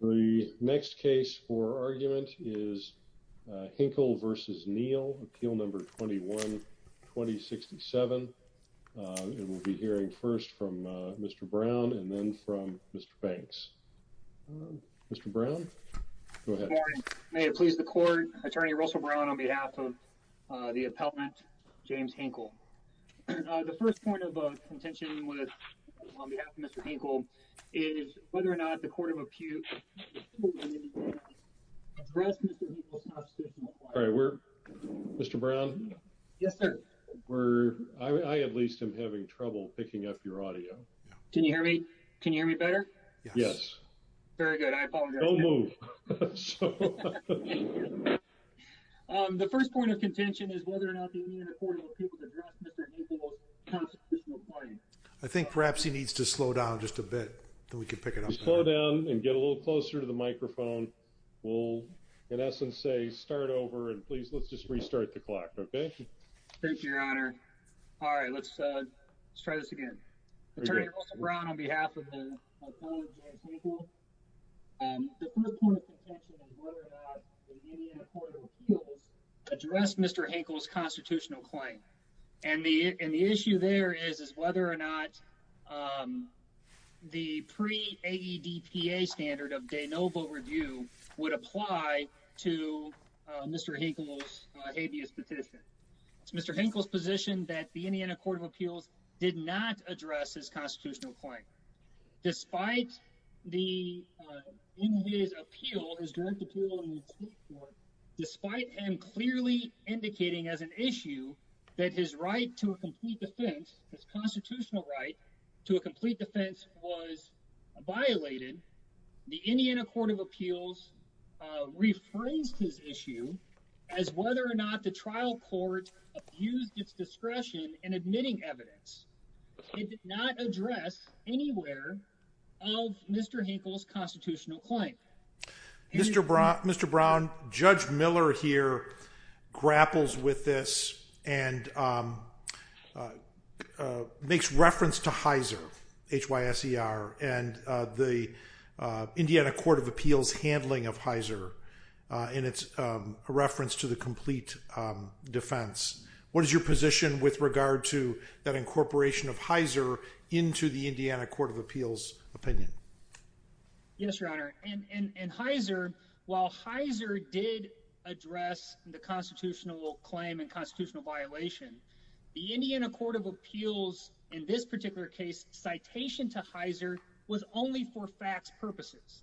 The next case for argument is Hinkle v. Neal, Appeal No. 21-2067, and we'll be hearing first from Mr. Brown and then from Mr. Banks. Mr. Brown, go ahead. Good morning. May it please the Court, Attorney Russell Brown on behalf of the appellant James Hinkle. The first point of contention is whether or not the Union of Courts of Appeal can address Mr. Hinkle's constitutional claim. All right. Mr. Brown? Yes, sir. I at least am having trouble picking up your audio. Can you hear me? Can you hear me better? Yes. Very good. I apologize. Don't move. The first point of contention is whether or not the Union of Courts of Appeal can address Mr. Hinkle's constitutional claim. I think perhaps he needs to slow down just a bit, then we can pick it up. Slow down and get a little closer to the microphone. We'll, in essence, say start over, and please let's just restart the clock, okay? Thank you, Your Honor. All right, let's try this again. Attorney Russell Brown on behalf of the appellant James Hinkle, the first point of contention is whether or not the Union of Courts of Appeals address Mr. Hinkle's constitutional claim, and the issue there is whether or not the pre-AEDPA standard of de novo review would apply to Mr. Hinkle's habeas petition. It's Mr. Hinkle's position that the Indiana Court of Appeals did not address his constitutional claim, despite the, in his appeal, his direct appeal in the Supreme Court, despite him clearly indicating as an issue that his right to a complete defense, his constitutional right to a complete defense was violated. The Indiana Court of Appeals rephrased his issue as whether or not the trial court abused its discretion in admitting evidence. It did not address anywhere of Mr. Hinkle's constitutional claim. Mr. Brown, Judge Miller here grapples with this and makes reference to Hyser, H-Y-S-E-R, and the Indiana Court of Appeals handling of Hyser, and it's a reference to the complete defense. What is your position with regard to that incorporation of Hyser into the Indiana Court of Appeals opinion? Yes, Your Honor, and Hyser, while Hyser did address the constitutional claim and constitutional violation, the Indiana Court of Appeals, in this particular case, citation to Hyser was only for facts purposes.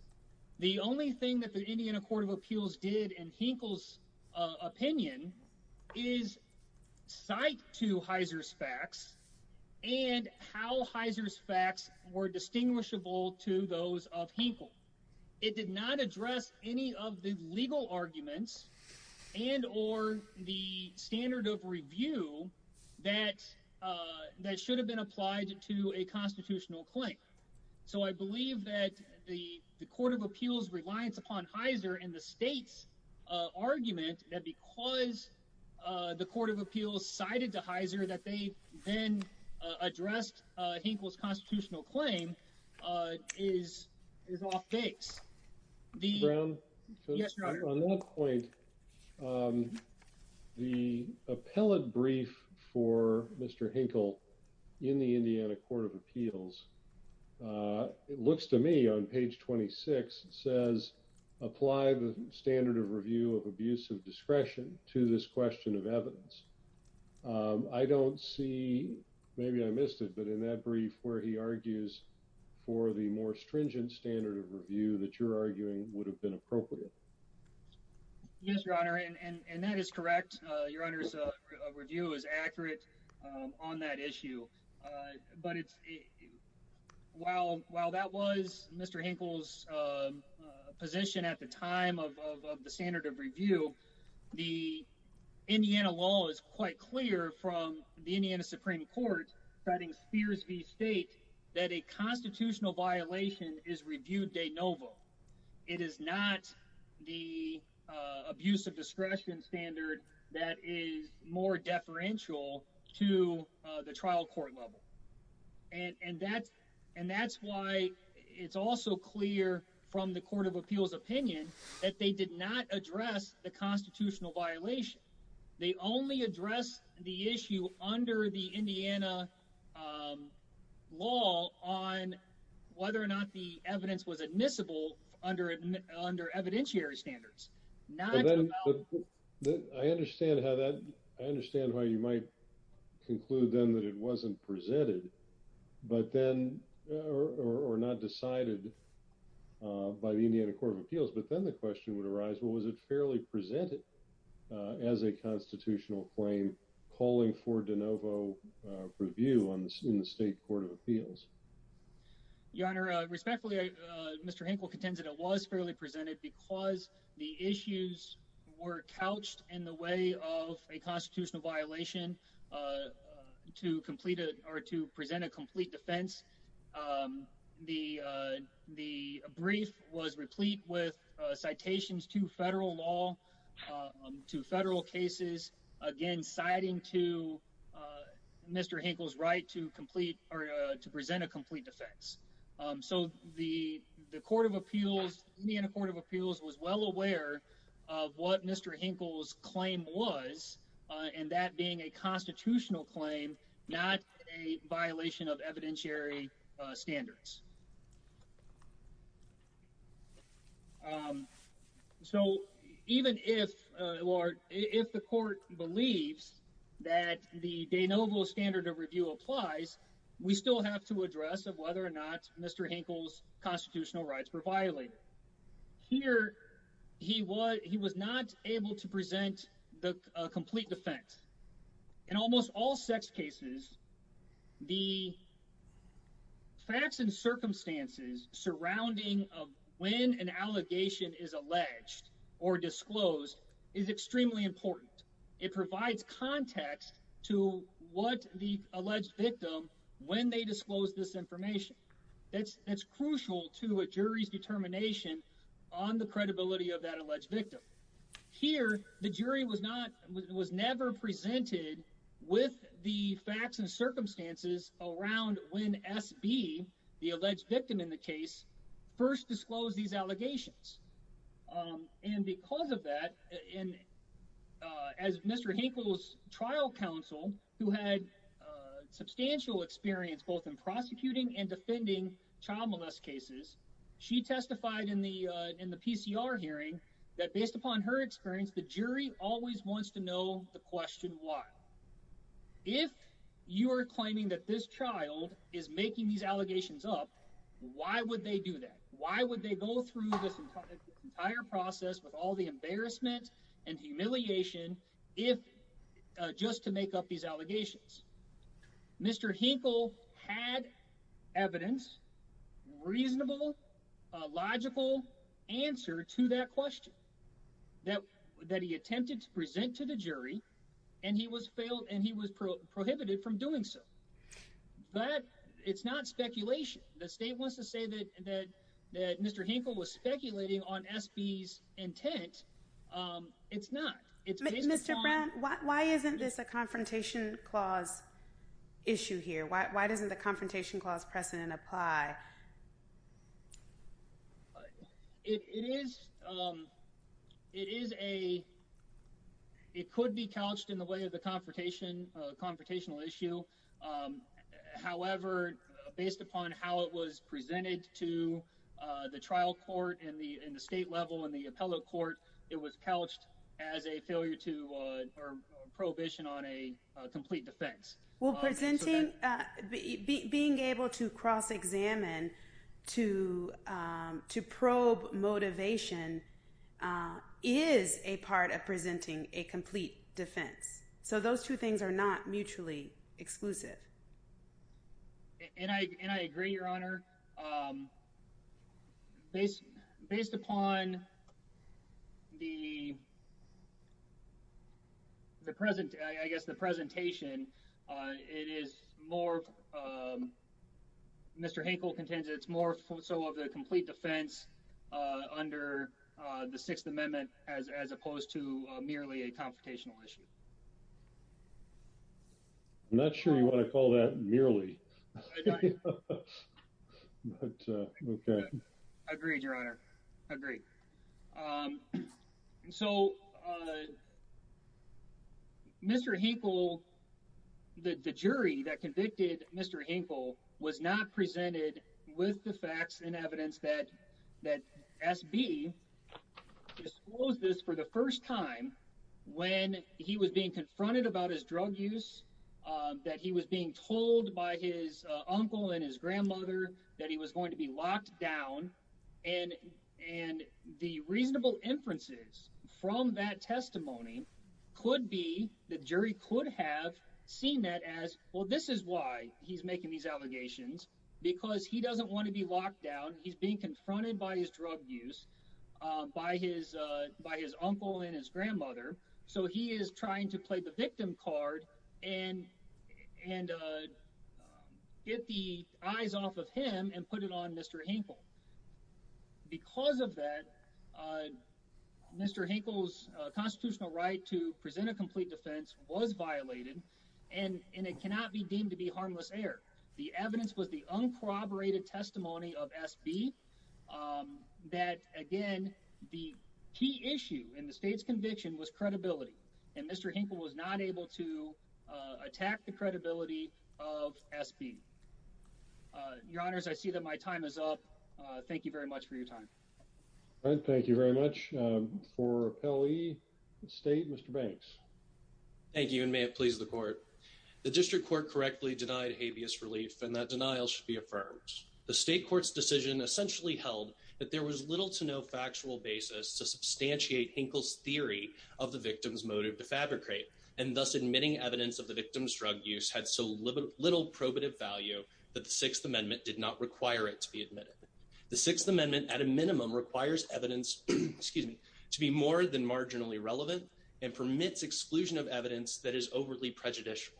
The only thing that the Indiana Court of Appeals did in Hinkle's opinion is cite to Hyser's facts were distinguishable to those of Hinkle. It did not address any of the legal arguments and or the standard of review that should have been applied to a constitutional claim. So I believe that the the Court of Appeals' reliance upon Hyser and the state's argument that because the Court of Appeals cited to Hyser that they then addressed Hinkle's constitutional claim is off base. Mr. Brown, on that point, the appellate brief for Mr. Hinkle in the Indiana Review of Abuse of Discretion to this question of evidence, I don't see, maybe I missed it, but in that brief where he argues for the more stringent standard of review that you're arguing would have been appropriate. Yes, Your Honor, and that is correct. Your Honor's review is accurate on that issue. But it's while while that was Mr. Hinkle's position at the time of the standard of review, the Indiana law is quite clear from the Indiana Supreme Court citing Spears v. State that a constitutional violation is reviewed de novo. It is not the abuse of discretion standard that is more deferential to the trial court level. And that's why it's also clear from the Court of Appeals' opinion that they did not address the constitutional violation. They only addressed the issue under the Indiana law on whether or not the evidence was admissible under evidentiary standards. I understand how you might conclude then that it wasn't presented but then or not decided by the Indiana Court of Appeals. But then the question would arise, well, was it fairly presented as a constitutional claim calling for de novo review in the State Court of Appeals? Your Honor, respectfully, Mr. Hinkle contends that it was fairly presented because the issues were couched in the way of a constitutional violation to complete it or to present a complete defense. The brief was replete with citations to federal law, to federal cases, again, citing to Mr. Hinkle's right to complete or to present a complete defense. So the Court of Appeals, Indiana Court of Appeals, was well aware of what Mr. Hinkle's claim was and that being a constitutional claim, not a violation of evidentiary standards. So even if or if the court believes that the de novo standard of review applies, we still have to address of whether or not Mr. Hinkle's constitutional rights were violated. Here he was not able to present the complete defense. In almost all sex cases, the facts and circumstances surrounding of when an allegation is alleged or disclosed is extremely important. It provides context to what the alleged victim, when they disclose this information. That's crucial to a jury's determination on the credibility of that circumstances around when S.B., the alleged victim in the case, first disclosed these allegations. And because of that, as Mr. Hinkle's trial counsel, who had substantial experience both in prosecuting and defending child molest cases, she testified in the PCR hearing that based upon her experience, the jury always wants to know the question why. If you are claiming that this child is making these allegations up, why would they do that? Why would they go through this entire process with all the embarrassment and humiliation if just to make up these allegations? Mr. Hinkle had evidence, reasonable, logical answer to that question that he attempted to present to the jury and he was failed and he was prohibited from doing so. But it's not speculation. The state wants to say that Mr. Hinkle was speculating on S.B.'s intent. It's not. Mr. Brown, why isn't this a confrontation clause issue here? Why doesn't the confrontation clause precedent apply? It could be couched in the way of the confrontational issue. However, based upon how it was presented to the trial court and the state level and the appellate court, it was couched as a failure to or prohibition on a complete defense. Well, presenting, being able to cross-examine to probe motivation is a part of presenting a complete defense. So those two things are not mutually exclusive. And I agree, Your Honor. Based upon the the present, I guess the presentation, it is more, Mr. Hinkle contends it's more so of the complete defense under the Sixth Amendment as opposed to merely a confrontational issue. I'm not sure you want to call that merely. Agreed, Your Honor. Agreed. So, Mr. Hinkle, the jury that convicted Mr. Hinkle was not presented with the facts and evidence that SB disclosed this for the first time when he was being confronted about his drug use, that he was being told by his uncle and his grandmother that he was going to be locked down. And the reasonable inferences from that testimony could be the jury could have seen that as, well, this is why he's making these allegations, because he doesn't want to be locked down. He's confronted by his drug use, by his uncle and his grandmother. So he is trying to play the victim card and get the eyes off of him and put it on Mr. Hinkle. Because of that, Mr. Hinkle's constitutional right to present a complete defense was violated, and it cannot be deemed to be that. Again, the key issue in the state's conviction was credibility, and Mr. Hinkle was not able to attack the credibility of SB. Your Honors, I see that my time is up. Thank you very much for your time. Thank you very much. For Appellee State, Mr. Banks. Thank you, and may it please the Court. The District Court correctly denied habeas relief, and that denial should be affirmed. The State Court's decision essentially held that there was little to no factual basis to substantiate Hinkle's theory of the victim's motive to fabricate, and thus admitting evidence of the victim's drug use had so little probative value that the Sixth Amendment did not require it to be admitted. The Sixth Amendment, at a minimum, requires evidence to be more than marginally relevant and permits exclusion of evidence that is overly prejudicial.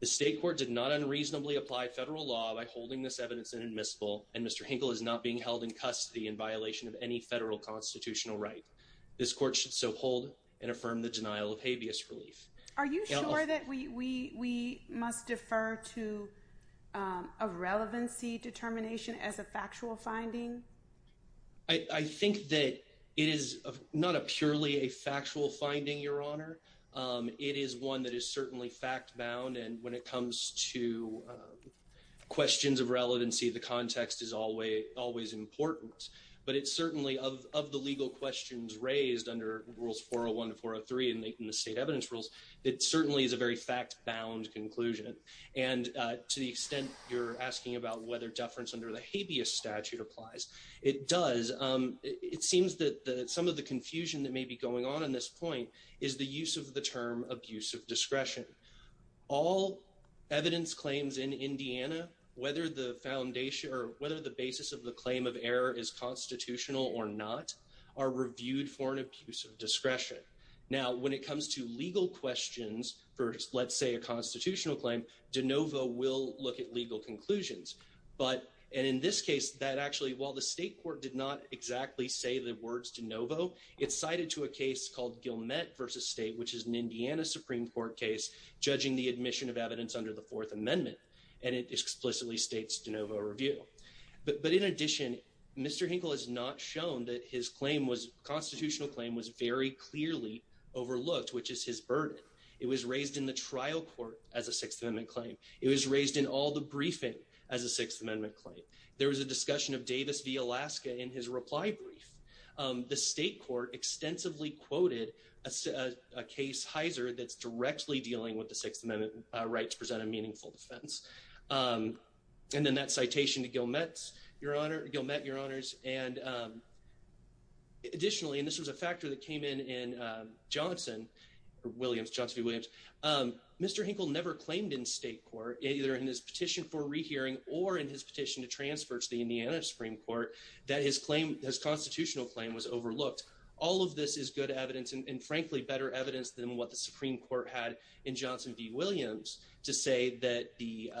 The State Court did not unreasonably apply federal law by holding this evidence inadmissible, and Mr. Hinkle is not being held in custody in violation of any federal constitutional right. This Court should so hold and affirm the denial of habeas relief. Are you sure that we must defer to a relevancy determination as a factual finding? I think that it is not a purely a fact-bound, and when it comes to questions of relevancy, the context is always important. But it certainly, of the legal questions raised under Rules 401 to 403 in the state evidence rules, it certainly is a very fact-bound conclusion. And to the extent you're asking about whether deference under the habeas statute applies, it does. It seems that some of the all evidence claims in Indiana, whether the basis of the claim of error is constitutional or not, are reviewed for an abuse of discretion. Now, when it comes to legal questions for, let's say, a constitutional claim, de novo will look at legal conclusions. But, and in this case, that actually, while the State Court did not exactly say the words de novo, it's cited to a case called Gilmette v. State, which is an Indiana Supreme Court case, judging the admission of evidence under the Fourth Amendment, and it explicitly states de novo review. But in addition, Mr. Hinkle has not shown that his claim was, constitutional claim, was very clearly overlooked, which is his burden. It was raised in the trial court as a Sixth Amendment claim. It was raised in all the briefing as a Sixth Amendment claim. There was a discussion of Davis v. Alaska in his reply brief. The State Court extensively quoted a case, Heiser, that's directly dealing with the Sixth Amendment right to present a meaningful defense. And then that citation to Gilmette, Your Honor, Gilmette, Your Honors, and additionally, and this was a factor that came in in Johnson, Williams, Johnson v. Williams, Mr. Hinkle never claimed in State Court, either in his petition for rehearing or in his petition to transfer to the Indiana Supreme Court, that his claim, his constitutional claim, was overlooked. All of this is good evidence and frankly better evidence than what the Supreme Court had in Johnson v. Williams to say that the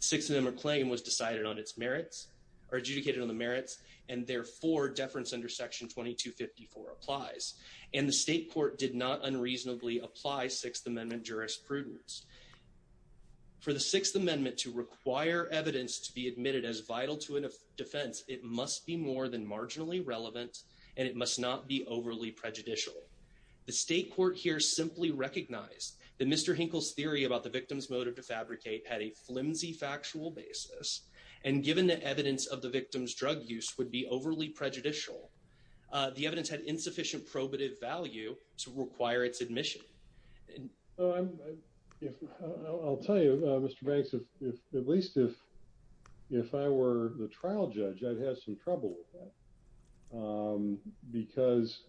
Sixth Amendment claim was decided on its merits, or adjudicated on the merits, and therefore deference under Section 2254 applies. And the State Court did not unreasonably apply Sixth Amendment jurisprudence. For the Sixth Amendment to require evidence to be admitted as vital to a defense, it must be more than marginally relevant, and it must not be overly prejudicial. The State Court here simply recognized that Mr. Hinkle's theory about the victim's motive to fabricate had a flimsy factual basis, and given the evidence of the victim's drug use would be overly prejudicial. The evidence had insufficient probative value to require its admission. Well, I'll tell you, Mr. Banks, if at least if I were the trial judge, I'd have some trouble with that, because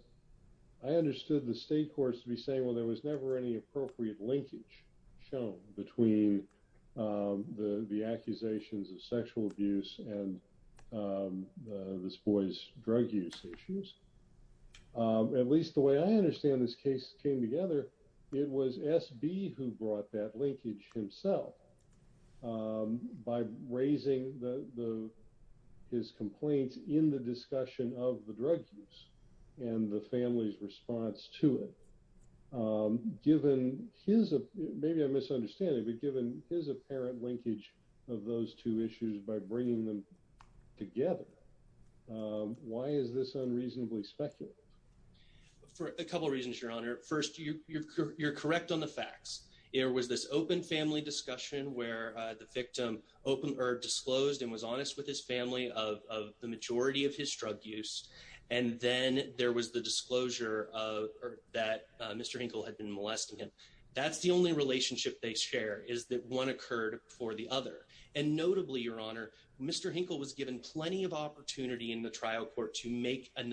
I understood the State Courts to be saying, well, there was never any appropriate linkage shown between the accusations of sexual abuse and this boy's drug use issues. At least the way I understand this case came together, it was S.B. who brought that linkage himself, by raising his complaints in the discussion of the drug use and the family's response to it. Given his, maybe I'm misunderstanding, but given his apparent linkage of those two issues by bringing them together, why is this unreasonably speculative? For a couple reasons, Your Honor. First, you're correct on the facts. There was this open family discussion where the victim disclosed and was honest with his family of the majority of his drug use, and then there was the disclosure that Mr. Hinkle had been molesting him. That's the relationship they share, is that one occurred before the other. And notably, Your Honor, Mr. Hinkle was given plenty of opportunity in the trial court to make a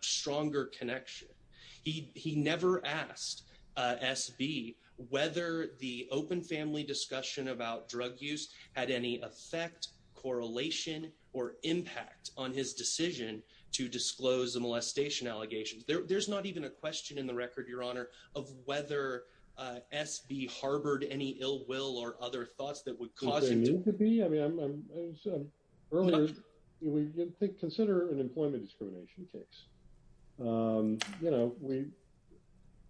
stronger connection. He never asked S.B. whether the open family discussion about drug use had any effect, correlation, or impact on his decision to disclose the molestation allegations. There's not even a question in the record, Your Honor, of whether S.B. harbored any ill will or other thoughts that would cause him to- Could there need to be? Earlier, consider an employment discrimination case.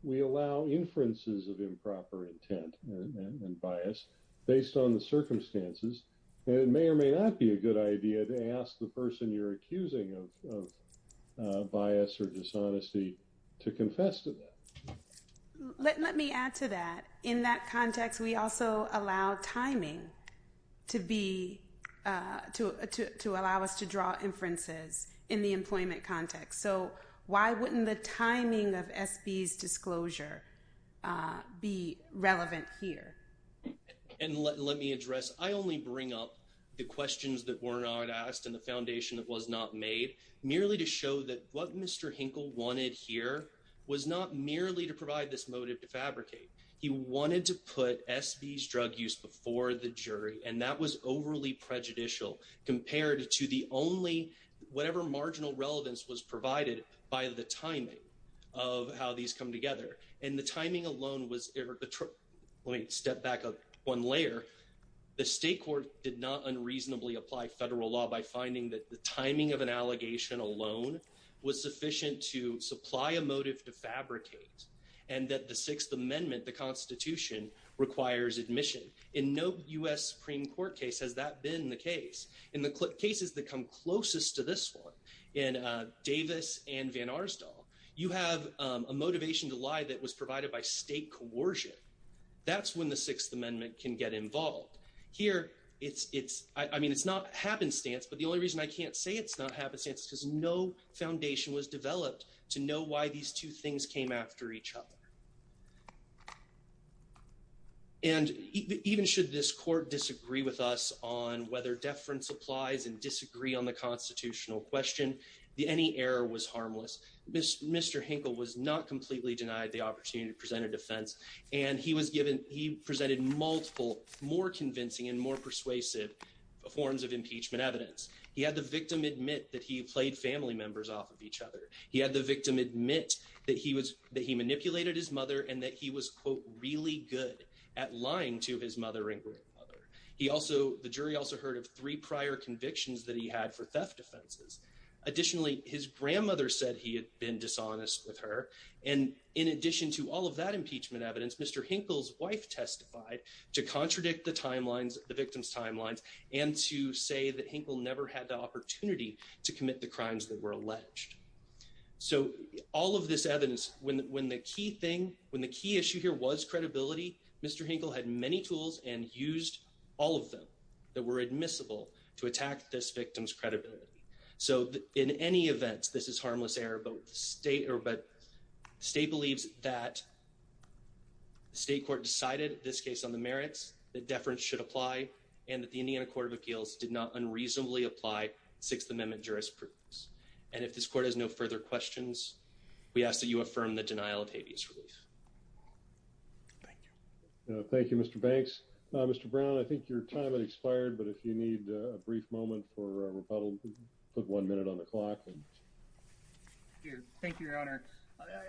We allow inferences of improper intent and bias based on the circumstances. It may or may not be a good idea to ask the person you're accusing of bias or dishonesty to confess to that. Let me add to that. In that context, we also allow timing to allow us to draw inferences in the employment context. So, why wouldn't the timing of S.B.'s disclosure be relevant here? And let me address, I only bring up the questions that were not asked and the foundation that was made, merely to show that what Mr. Hinkle wanted here was not merely to provide this motive to fabricate. He wanted to put S.B.'s drug use before the jury, and that was overly prejudicial compared to the only, whatever marginal relevance was provided by the timing of how these come together. And the timing alone was- Let me step back one layer. The state court did not unreasonably apply federal law by finding that the timing of an allegation alone was sufficient to supply a motive to fabricate, and that the Sixth Amendment, the Constitution, requires admission. In no U.S. Supreme Court case has that been the case. In the cases that come closest to this one, in Davis and Van Arsdale, you have a motivation to lie that was provided by state coercion. That's when the Sixth Amendment can get involved. Here, it's not happenstance, but the only reason I can't say it's not happenstance is because no foundation was developed to know why these two things came after each other. And even should this court disagree with us on whether deference applies and disagree on the constitutional question, any error was harmless. Mr. Hinkle was not completely denied the opportunity to present a defense, and he presented multiple more convincing and more persuasive forms of impeachment evidence. He had the victim admit that he played family members off of each other. He had the victim admit that he manipulated his mother and that he was, quote, really good at lying to his mother and grandmother. The jury also heard of three prior convictions that he had for theft offenses. Additionally, his grandmother said he had been dishonest with her. And in addition to all of that impeachment evidence, Mr. Hinkle's wife testified to contradict the victim's timelines and to say that Hinkle never had the opportunity to commit the crimes that were alleged. So all of this evidence, when the key issue here was credibility, Mr. Hinkle had many tools and used all of them that were admissible to attack this victim's credibility. So in any event, this is harmless error, but state believes that the state court decided this case on the merits that deference should apply and that the Indiana Court of Appeals did not unreasonably apply Sixth Amendment jurisprudence. And if this court has no further questions, we ask that you affirm the denial of habeas relief. Thank you. Thank you, Mr. Banks. Mr. Brown, I think your time has expired, but if you need a brief moment for rebuttal, put one minute on the clock. Thank you, Your Honor.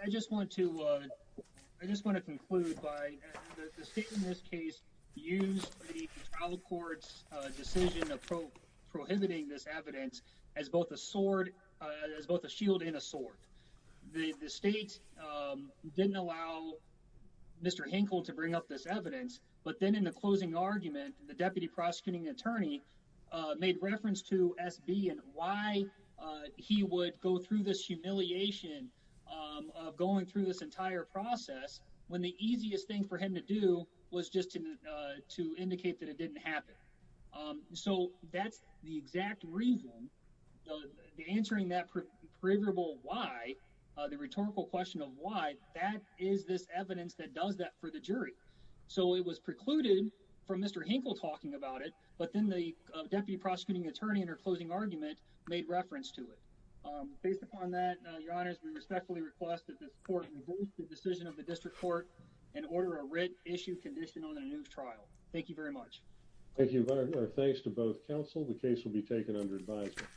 I just want to, I just want to conclude by the state in this case used the trial court's decision of prohibiting this evidence as both a sword, as both a shield and a sword. The state didn't allow Mr. Hinkle to bring up this evidence, but then in the closing argument, the deputy prosecuting attorney made reference to SB and why he would go through this humiliation of going through this entire process when the easiest thing for him to do was just to indicate that it didn't happen. So that's the exact reason, the answering that provable why the rhetorical question of why that is this evidence that does that for the jury. So it was precluded from Mr. Hinkle talking about it, but then the deputy prosecuting attorney and her closing argument made reference to it. Based upon that, Your Honors, we respectfully request that this court revoke the decision of the district court and order a writ issue condition on a new trial. Thank you very much. Thank you, Your Honor. Thanks to both counsel. The case will be taken under advisory.